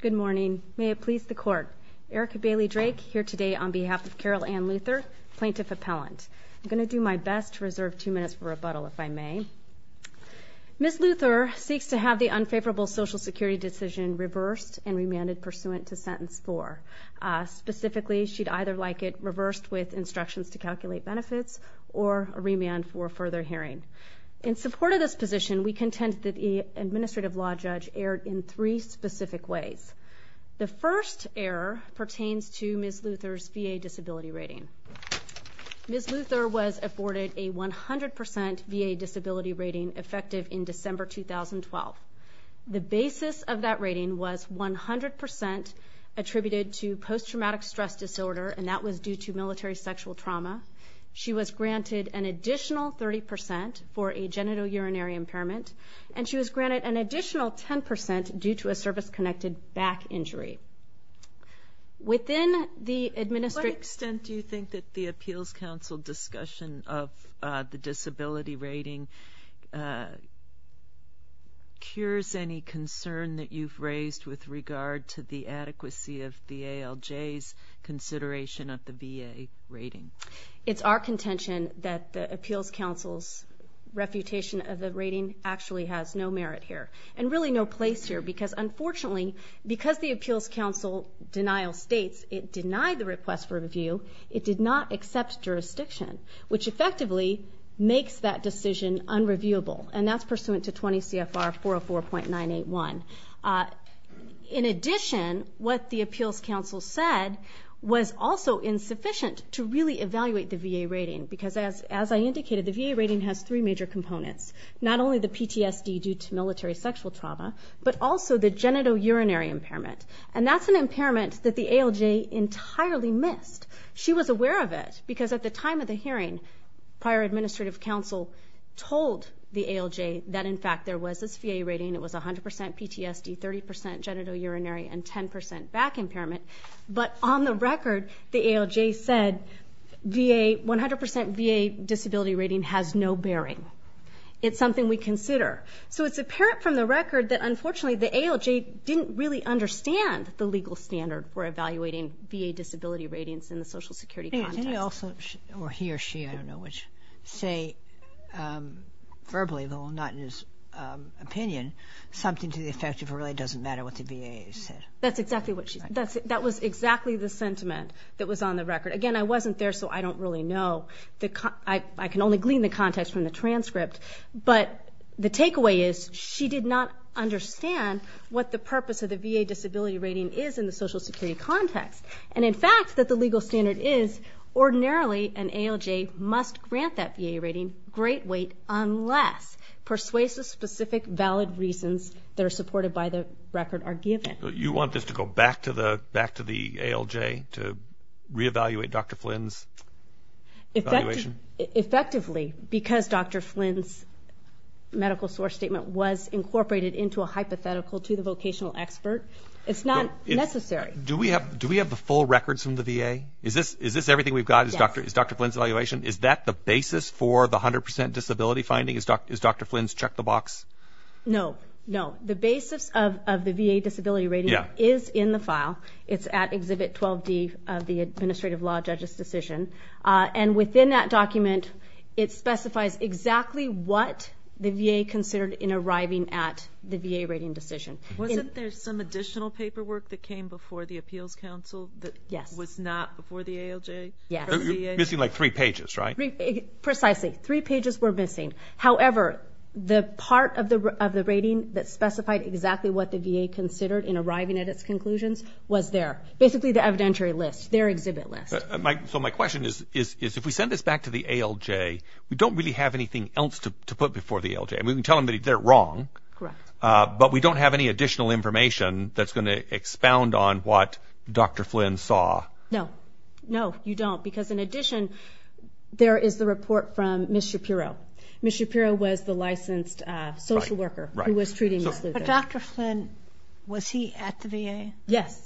Good morning. May it please the court. Erica Bailey Drake here today on behalf of Carol Ann Luther, Plaintiff Appellant. I'm going to do my best to reserve two minutes for rebuttal if I may. Ms. Luther seeks to have the unfavorable Social Security decision reversed and remanded pursuant to sentence four. Specifically she'd either like it reversed with instructions to calculate benefits or a remand for further hearing. In support of this position we contend that the administrative law judge erred in three specific ways. The first error pertains to Ms. Luther's VA disability rating. Ms. Luther was afforded a 100% VA disability rating effective in December 2012. The basis of that rating was 100% attributed to post-traumatic stress disorder and that was due to military sexual trauma. She was granted an additional 30% for a genitourinary impairment and she was granted an additional 10% due to a service-connected back injury. Within the administrative... What extent do you think that the Appeals Council discussion of the disability rating cures any concern that you've raised with regard to the adequacy of the ALJ's consideration of the VA rating? It's our contention that the Appeals Council's refutation of the rating actually has no merit here and really no place here because unfortunately because the Appeals Council denial states it denied the request for review it did not accept jurisdiction which effectively makes that decision unreviewable and that's pursuant to 20 CFR 404.981. In addition what the Appeals Council said was also insufficient to really evaluate the VA rating because as I indicated the VA rating has three major components not only the PTSD due to military sexual trauma but also the genitourinary impairment and that's an impairment that the ALJ entirely missed. She was aware of it because at the time of the hearing prior administrative counsel told the ALJ that in fact there was this VA rating it was a 100% PTSD, 30% genitourinary and 10% back impairment but on the record the ALJ said VA 100% VA disability rating has no bearing. It's something we consider. So it's apparent from the record that unfortunately the ALJ didn't really understand the legal standard for evaluating VA disability ratings in the Social Security context. Or he or she I don't know which say verbally though not in his opinion something to the effect of really doesn't matter what the VA said. That's exactly what she said. That was exactly the sentiment that was on the record. Again I wasn't there so I don't really know. I can only glean the context from the transcript but the takeaway is she did not understand what the purpose of the VA disability rating is in the Social Security context and in fact that the legal standard is ordinarily an ALJ must grant that VA rating great weight unless persuasive specific valid reasons that are given. You want this to go back to the back to the ALJ to re-evaluate Dr. Flynn's evaluation? Effectively because Dr. Flynn's medical source statement was incorporated into a hypothetical to the vocational expert it's not necessary. Do we have do we have the full records from the VA? Is this is this everything we've got is Dr. Flynn's evaluation? Is that the basis for the 100% disability finding is Dr. Flynn's check the box? No no the basis of the VA disability rating is in the file it's at exhibit 12d of the administrative law judges decision and within that document it specifies exactly what the VA considered in arriving at the VA rating decision. Wasn't there some additional paperwork that came before the Appeals Council that was not before the ALJ? You're missing like three pages right? Precisely three pages were missing however the part of the of the rating that specified exactly what the VA considered in arriving at its conclusions was there. Basically the evidentiary list their exhibit list. So my question is is if we send this back to the ALJ we don't really have anything else to put before the ALJ and we can tell them that they're wrong but we don't have any additional information that's going to expound on what Dr. Flynn saw? No no you don't because in addition there is the report from Ms. Shapiro. Ms. Shapiro was the licensed social worker who was treating Ms. Luther. But Dr. Flynn was he at the VA? Yes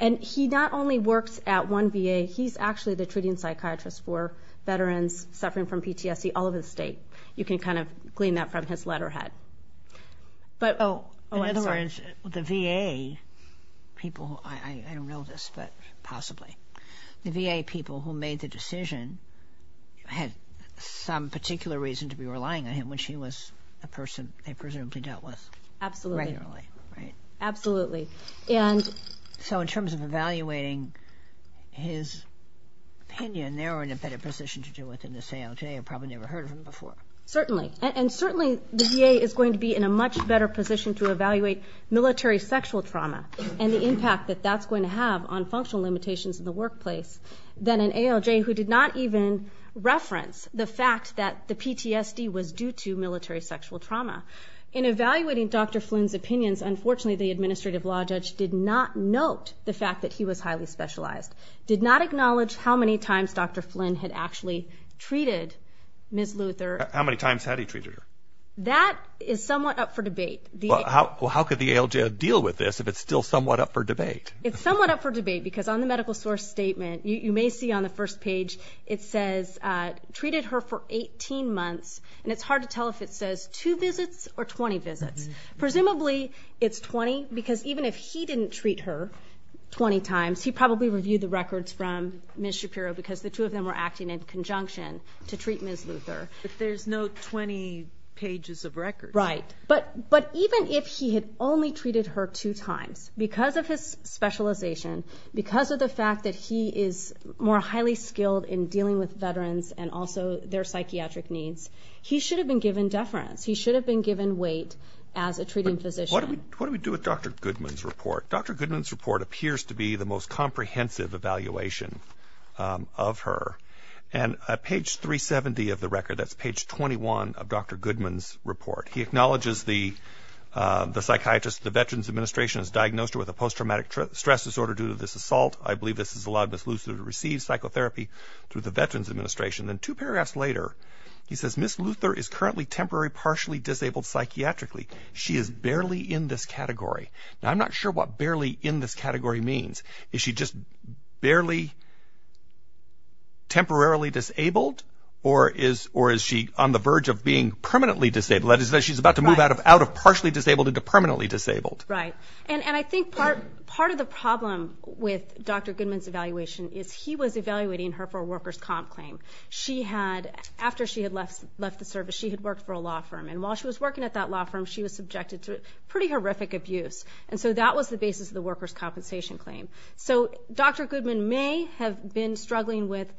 and he not only works at one VA he's actually the treating psychiatrist for veterans suffering from PTSD all over the state. You can kind of glean that from his letterhead. In other words the VA people I don't know this but possibly the VA people who made the decision had some particular reason to be relying on him when she was a person they presumably dealt with regularly. Absolutely and so in terms of evaluating his opinion they're in a better position to deal with in this ALJ. I've probably never heard of him before. Certainly and certainly the VA is going to be in a much better position to evaluate military sexual trauma and the impact that that's going to have on functional limitations in the workplace than an ALJ who did not even reference the fact that the PTSD was due to military sexual trauma. In evaluating Dr. Flynn's opinions unfortunately the administrative law judge did not note the fact that he was highly specialized. Did not acknowledge how many times Dr. Flynn had actually treated Ms. Luther. How many times had he treated her? That is somewhat up for debate. Well how could the ALJ deal with this if it's still somewhat up for debate? It's somewhat up for debate because on the medical source statement you may see on the first page it says treated her for 18 months and it's hard to tell if it says two visits or 20 visits. Presumably it's 20 because even if he didn't treat her 20 times he probably reviewed the records from Ms. Shapiro because the two of them were acting in conjunction to treat Ms. Luther. But there's no 20 pages of records. Right but but even if he had only treated her two times because of his specialization because of the fact that he is more highly skilled in dealing with veterans and also their psychiatric needs he should have been given deference. He should have been given weight as a treating physician. What do we do with Dr. Goodman's report? Dr. Goodman's report appears to be the most comprehensive evaluation of her and at page 370 of the record that's page 21 of Dr. Goodman's report he acknowledges the the psychiatrist the Veterans Administration is diagnosed with a post-traumatic stress disorder due to this assault. I believe this has allowed Ms. Luther to receive psychotherapy through the Veterans Administration. Then two paragraphs later he says Ms. Luther is currently temporary partially disabled psychiatrically. She is barely in this category. Now I'm not sure what barely in this category means. Is she just barely temporarily disabled or is or is she on the verge of being permanently disabled? That is that she's about to move out of out of partially disabled into permanently disabled. Right and and I think part part of the problem with Dr. Goodman's evaluation is he was had after she had left left the service she had worked for a law firm and while she was working at that law firm she was subjected to pretty horrific abuse and so that was the basis of the workers compensation claim. So Dr. Goodman may have been struggling with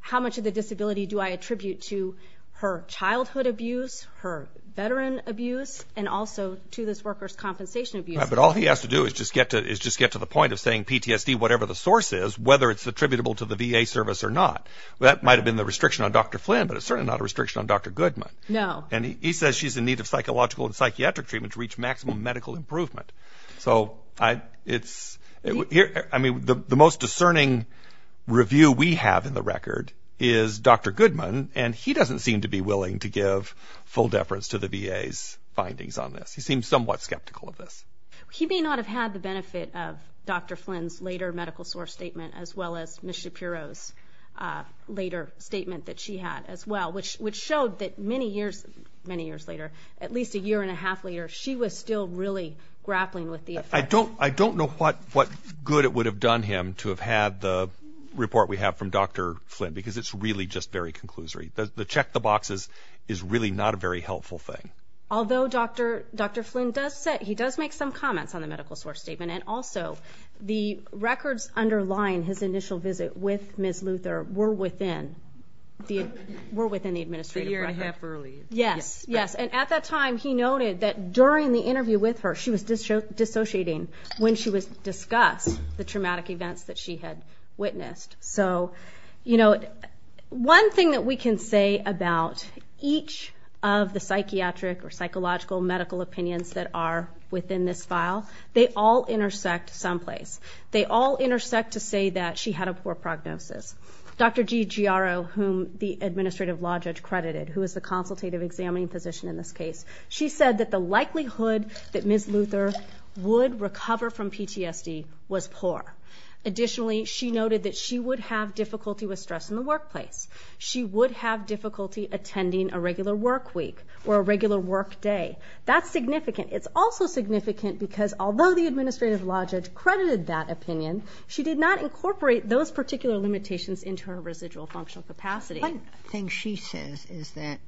how much of the disability do I attribute to her childhood abuse her veteran abuse and also to this workers compensation abuse. But all he has to do is just get to is just get to the point of saying PTSD whatever the source is whether it's attributable to the VA service or not that might have been the restriction on Dr. Flynn but it's certainly not a restriction on Dr. Goodman. No. And he says she's in need of psychological and psychiatric treatment to reach maximum medical improvement. So I it's here I mean the most discerning review we have in the record is Dr. Goodman and he doesn't seem to be willing to give full deference to the VA's findings on this. He seems somewhat skeptical of this. He may not have had the benefit of Dr. Shapiro's later statement that she had as well which which showed that many years many years later at least a year and a half later she was still really grappling with the effect. I don't I don't know what what good it would have done him to have had the report we have from Dr. Flynn because it's really just very conclusory. The check the boxes is really not a very helpful thing. Although Dr. Dr. Flynn does say he does make some comments on the medical source statement and also the records underlying his initial visit with Ms. Luther were within the were within the administrative. Yes yes and at that time he noted that during the interview with her she was just show dissociating when she was discussed the traumatic events that she had witnessed. So you know one thing that we can say about each of the psychiatric or psychological medical opinions that are within this file they all intersect someplace. They all intersect to say that she had a poor prognosis. Dr. G Giaro whom the administrative law judge credited who is the consultative examining physician in this case she said that the likelihood that Ms. Luther would recover from PTSD was poor. Additionally she noted that she would have difficulty with stress in the workplace. She would have difficulty attending a regular work week or a It's also significant because although the administrative law judge credited that opinion she did not incorporate those particular limitations into her residual functional capacity. One thing she says is that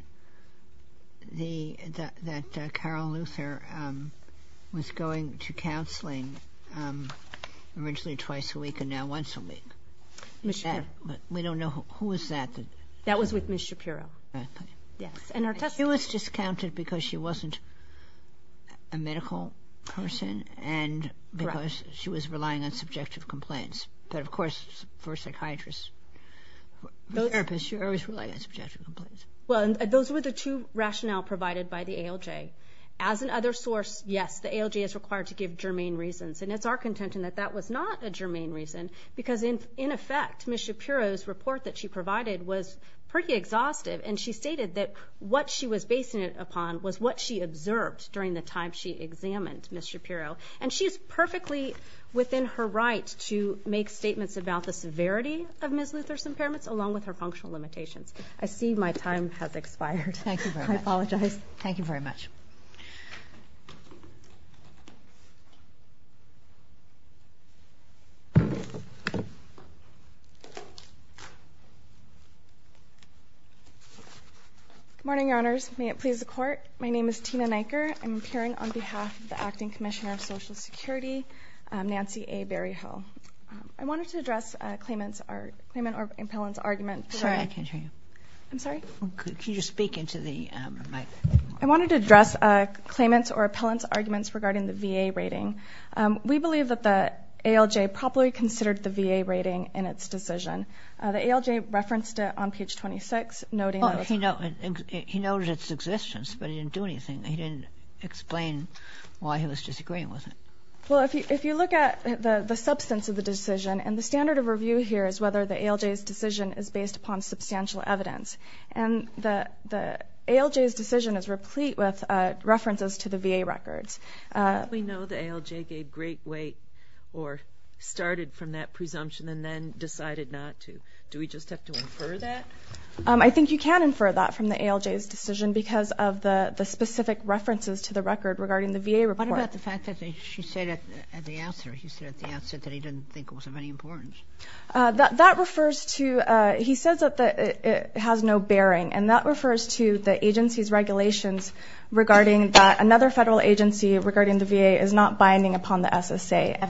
the that Carol Luther was going to counseling originally twice a week and now once a week. We don't know who was that. That was with Ms. Shapiro. Yes and her was discounted because she wasn't a medical person and because she was relying on subjective complaints. But of course for a psychiatrist, for a therapist you're always relying on subjective complaints. Well those were the two rationale provided by the ALJ. As an other source yes the ALJ is required to give germane reasons and it's our contention that that was not a germane reason because in in effect Ms. Shapiro's report that she provided was pretty exhaustive and she stated that what she was basing it upon was what she observed during the time she examined Ms. Shapiro and she's perfectly within her right to make statements about the severity of Ms. Luther's impairments along with her functional limitations. I see my time has expired. Thank you. I apologize. Thank you very much. Good morning, your honors. May it please the court. My name is Tina Neiker. I'm appearing on behalf of the Acting Commissioner of Social Security, Nancy A. Berryhill. I wanted to address claimant's argument. Sorry, I can't hear you. I'm sorry. Can you speak into the mic? I wanted to address a claimant's or appellant's arguments regarding the VA rating. We believe that the ALJ properly considered the VA rating in its decision. The ALJ referenced it on page 26, noting that it's... He noted its existence but he didn't do anything. He didn't explain why he was disagreeing with it. Well if you look at the the substance of the decision and the standard of review here is whether the ALJ's decision is based upon substantial evidence and the the ALJ's decision is replete with references to the VA records. We know the ALJ gave great weight or started from that presumption and then decided not to. Do we just have to infer that? I think you can infer that from the ALJ's decision because of the the specific references to the record regarding the VA report. What about the fact that she said at the outset that he didn't think it was of any importance? That it has no bearing and that refers to the agency's regulations regarding that another federal agency regarding the VA is not binding upon the SSA.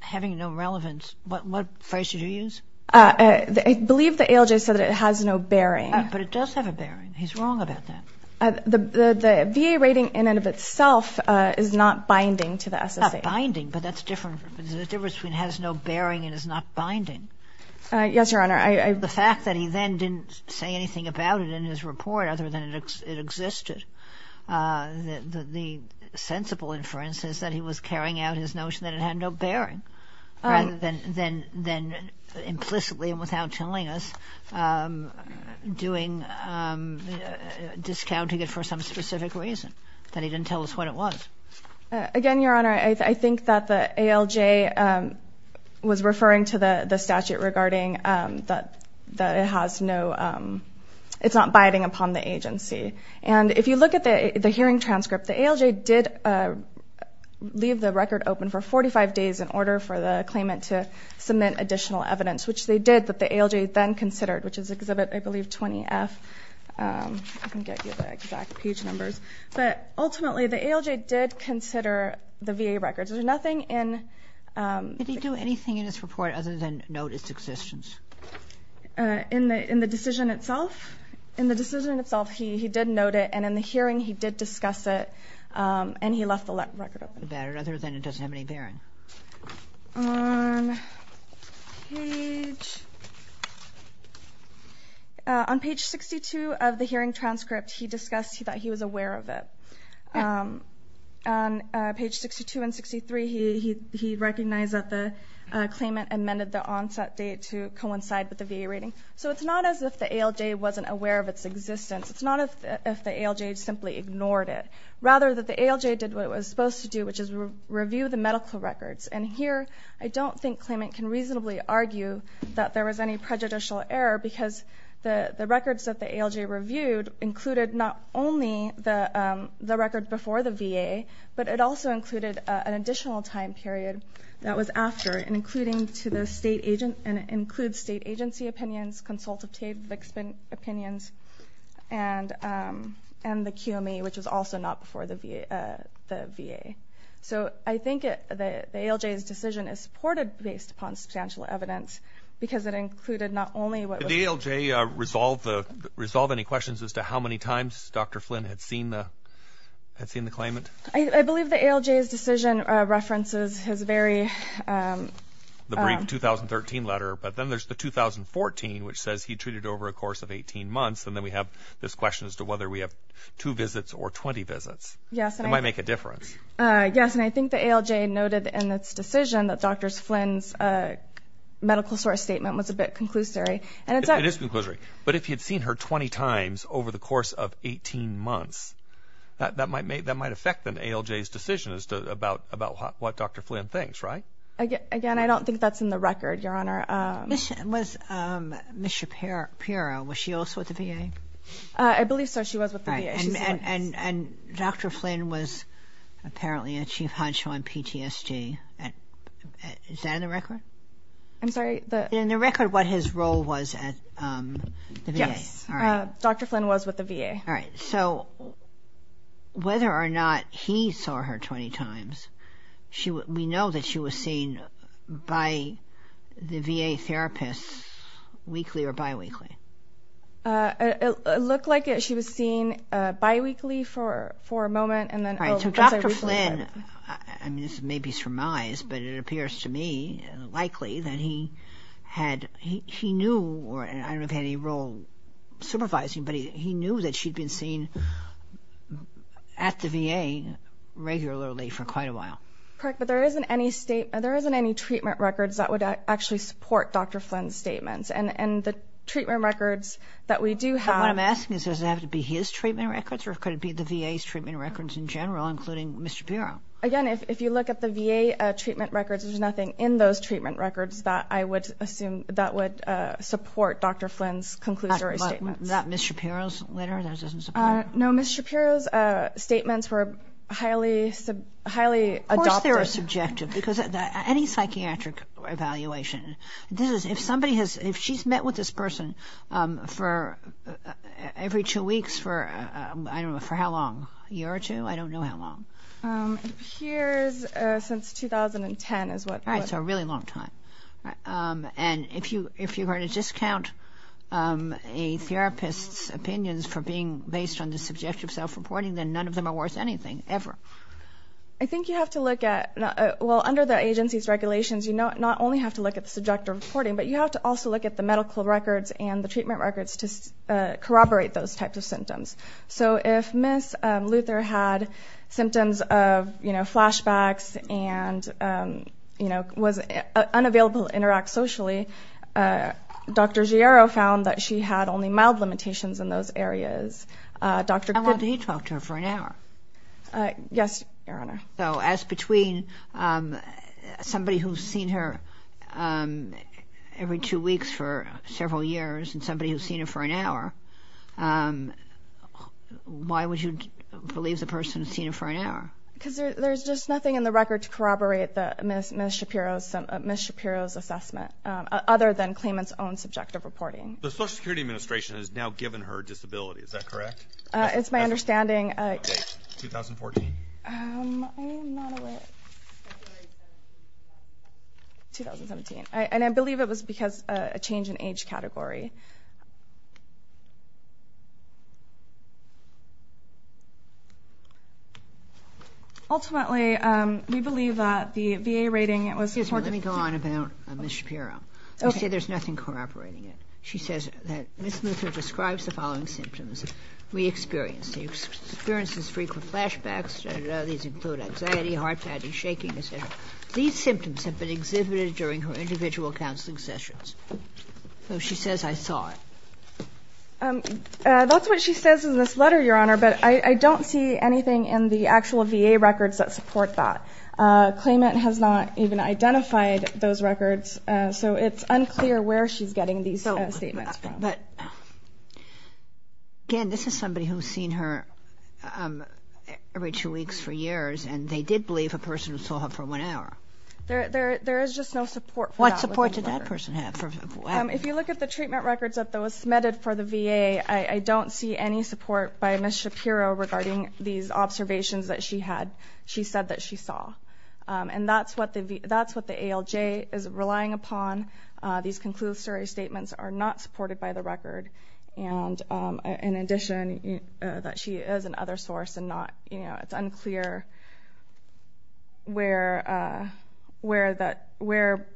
Having no relevance, what phrase did you use? I believe the ALJ said it has no bearing. But it does have a bearing. He's wrong about that. The VA rating in and of itself is not binding to the SSA. It's not binding but that's different. There's a difference between has no bearing and is not binding. Yes, Your Honor. The fact that he then didn't say anything about it in his report other than it existed, the sensible inference is that he was carrying out his notion that it had no bearing rather than implicitly and without telling us, discounting it for some specific reason. That he didn't tell us what it was. Again, Your Honor, I think that the ALJ was referring to the statute regarding that it's not binding upon the agency. If you look at the hearing transcript, the ALJ did leave the record open for 45 days in order for the claimant to submit additional evidence, which they did, that the ALJ then considered, which is Exhibit 20F. I can get you the exact page numbers. Ultimately, the ALJ did consider the VA records. There's nothing in... Did he do anything in his report other than note its existence? In the decision itself? In the decision itself, he did note it and in the hearing he did discuss it and he left the record open. Other than it doesn't have any bearing. On page 62 of the hearing transcript, he discussed that he was aware of it. On page 62 and 63, he recognized that the claimant amended the onset date to coincide with the VA rating. So it's not as if the ALJ wasn't aware of its existence. It's not as if the ALJ simply ignored it. Rather, that the ALJ did what it did with the medical records. And here, I don't think claimant can reasonably argue that there was any prejudicial error because the records that the ALJ reviewed included not only the record before the VA, but it also included an additional time period that was after, and it includes state agency opinions, consultative opinions, and the QMA, which was also not before the VA. So I think the ALJ's decision is supported based upon substantial evidence because it included not only what was... Did the ALJ resolve any questions as to how many times Dr. Flynn had seen the claimant? I believe the ALJ's decision references his very... The brief 2013 letter, but then there's the 2014, which says he treated over a course of 18 months, and then we have this question as to whether we have two visits or 20 visits. It might make a difference. Yes, and I think the ALJ noted in its decision that Dr. Flynn's medical source statement was a bit conclusory. It is conclusory, but if he had seen her 20 times over the course of 18 months, that might affect the ALJ's decision as to about what Dr. Flynn thinks, right? Again, I don't think that's in the record, Your Honor. Was Ms. Shapiro, was she also at the VA? I believe so. She was with the VA. And Dr. Flynn was apparently a chief honcho on PTSD. Is that in the record? I'm sorry? In the record what his role was at the VA. Yes, Dr. Flynn was with the VA. All right. So whether or not he saw her 20 times, we know that she was seen by the VA therapists weekly or bi-weekly. It looked like she was seen bi-weekly for a moment, and then Dr. Flynn, I mean, this may be surmised, but it appears to me likely that he had, he knew, or I don't know if he had any role supervising, but he knew that she'd been seen at the VA regularly for quite a while. Correct, but there isn't any statement, there isn't any treatment records that would actually support Dr. Flynn's treatment records that we do have. What I'm asking is, does it have to be his treatment records, or could it be the VA's treatment records in general, including Ms. Shapiro? Again, if you look at the VA treatment records, there's nothing in those treatment records that I would assume that would support Dr. Flynn's conclusory statements. Not Ms. Shapiro's letter? No, Ms. Shapiro's statements were highly, highly adopted. Of course they were subjective, because any psychiatric evaluation, if somebody has, if she's met with this person for every two weeks for, I don't know, for how long? A year or two? I don't know how long. Here's since 2010 is what... Right, so a really long time. And if you're going to discount a therapist's opinions for being based on the subjective self-reporting, then none of them are worth anything, ever. I think you have to look at... Well, under the agency's regulations, you not only have to look at the subjective reporting, but you have to also look at the medical records and the treatment records to corroborate those types of symptoms. So if Ms. Luther had symptoms of flashbacks and was unavailable to interact socially, Dr. Giero found that she had only mild limitations in those areas. Dr. Giero... How long did he talk to her? For an hour? Yes, Your Honor. So as between somebody who's seen her every two weeks for several years and somebody who's seen her for an hour, why would you believe the person has seen her for an hour? Because there's just nothing in the record to corroborate Ms. Shapiro's assessment, other than claimant's own subjective reporting. The Social Security report, is that correct? It's my understanding... 2014? I'm not aware. 2017. And I believe it was because of a change in age category. Ultimately, we believe that the VA rating was... Let me go on about Ms. Shapiro. Okay. You say there's nothing corroborating it. She says that Ms. Shapiro re-experienced. She experiences frequent flashbacks. These include anxiety, heart pounding, shaking, etc. These symptoms have been exhibited during her individual counseling sessions. So she says, I saw it. That's what she says in this letter, Your Honor, but I don't see anything in the actual VA records that support that. Claimant has not even identified those records, so it's unclear where she's getting these statements from. But again, this is somebody who's seen her every two weeks for years, and they did believe a person who saw her for one hour. There is just no support for that. What support did that person have? If you look at the treatment records that was submitted for the VA, I don't see any support by Ms. Shapiro regarding these observations that she had, she said that she saw. And that's what the ALJ is relying upon. These conclusory statements are not supported by the record. And in addition, that she is an other source, and it's unclear where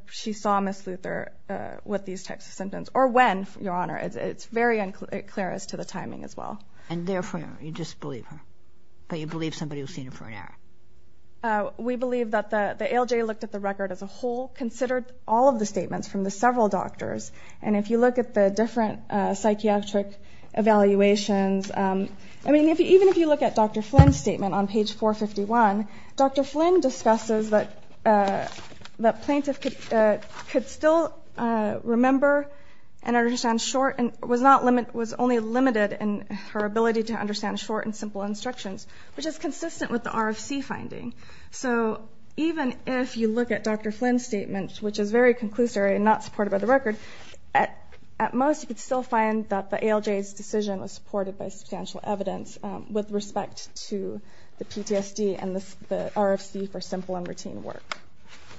she saw Ms. Luther with these types of symptoms, or when, Your Honor. It's very unclear as to the timing as well. And therefore, you just believe her, but you believe somebody who's seen her for an hour? We believe that the ALJ looked at the record as a whole, considered all of the statements from the several doctors. And if you look at the different psychiatric evaluations, I mean, even if you look at Dr. Flynn's statement on page 451, Dr. Flynn discusses that the plaintiff could still remember and understand short, and was only limited in her ability to understand short and simple instructions, which is consistent with the RFC finding. So even if you look at Dr. Flynn's statement, which is very conclusory and not supported by the record, at most, you could still find that the ALJ's decision was supported by substantial evidence with respect to the PTSD and the RFC for simple and routine work.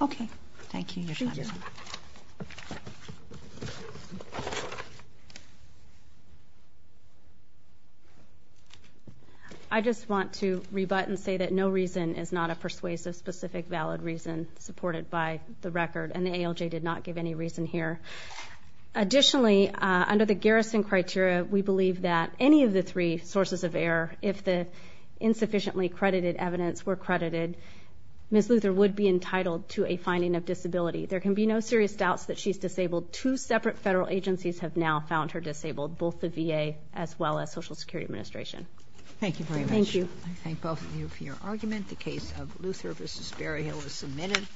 Okay. Thank you, Your Honor. I just want to rebut and say that no reason is not a persuasive, specific, valid reason supported by the record, and the ALJ did not give any reason here. Additionally, under the garrison criteria, we believe that any of the three sources of error, if the insufficiently credited evidence were credited, Ms. Luther would be entitled to a finding of disability. There can be no serious doubts that she's disabled. Two separate federal agencies have now found her disabled, both the VA as well as Social Security Administration. Thank you very much. Thank you. I thank both of you for your time. This hearing is adjourned.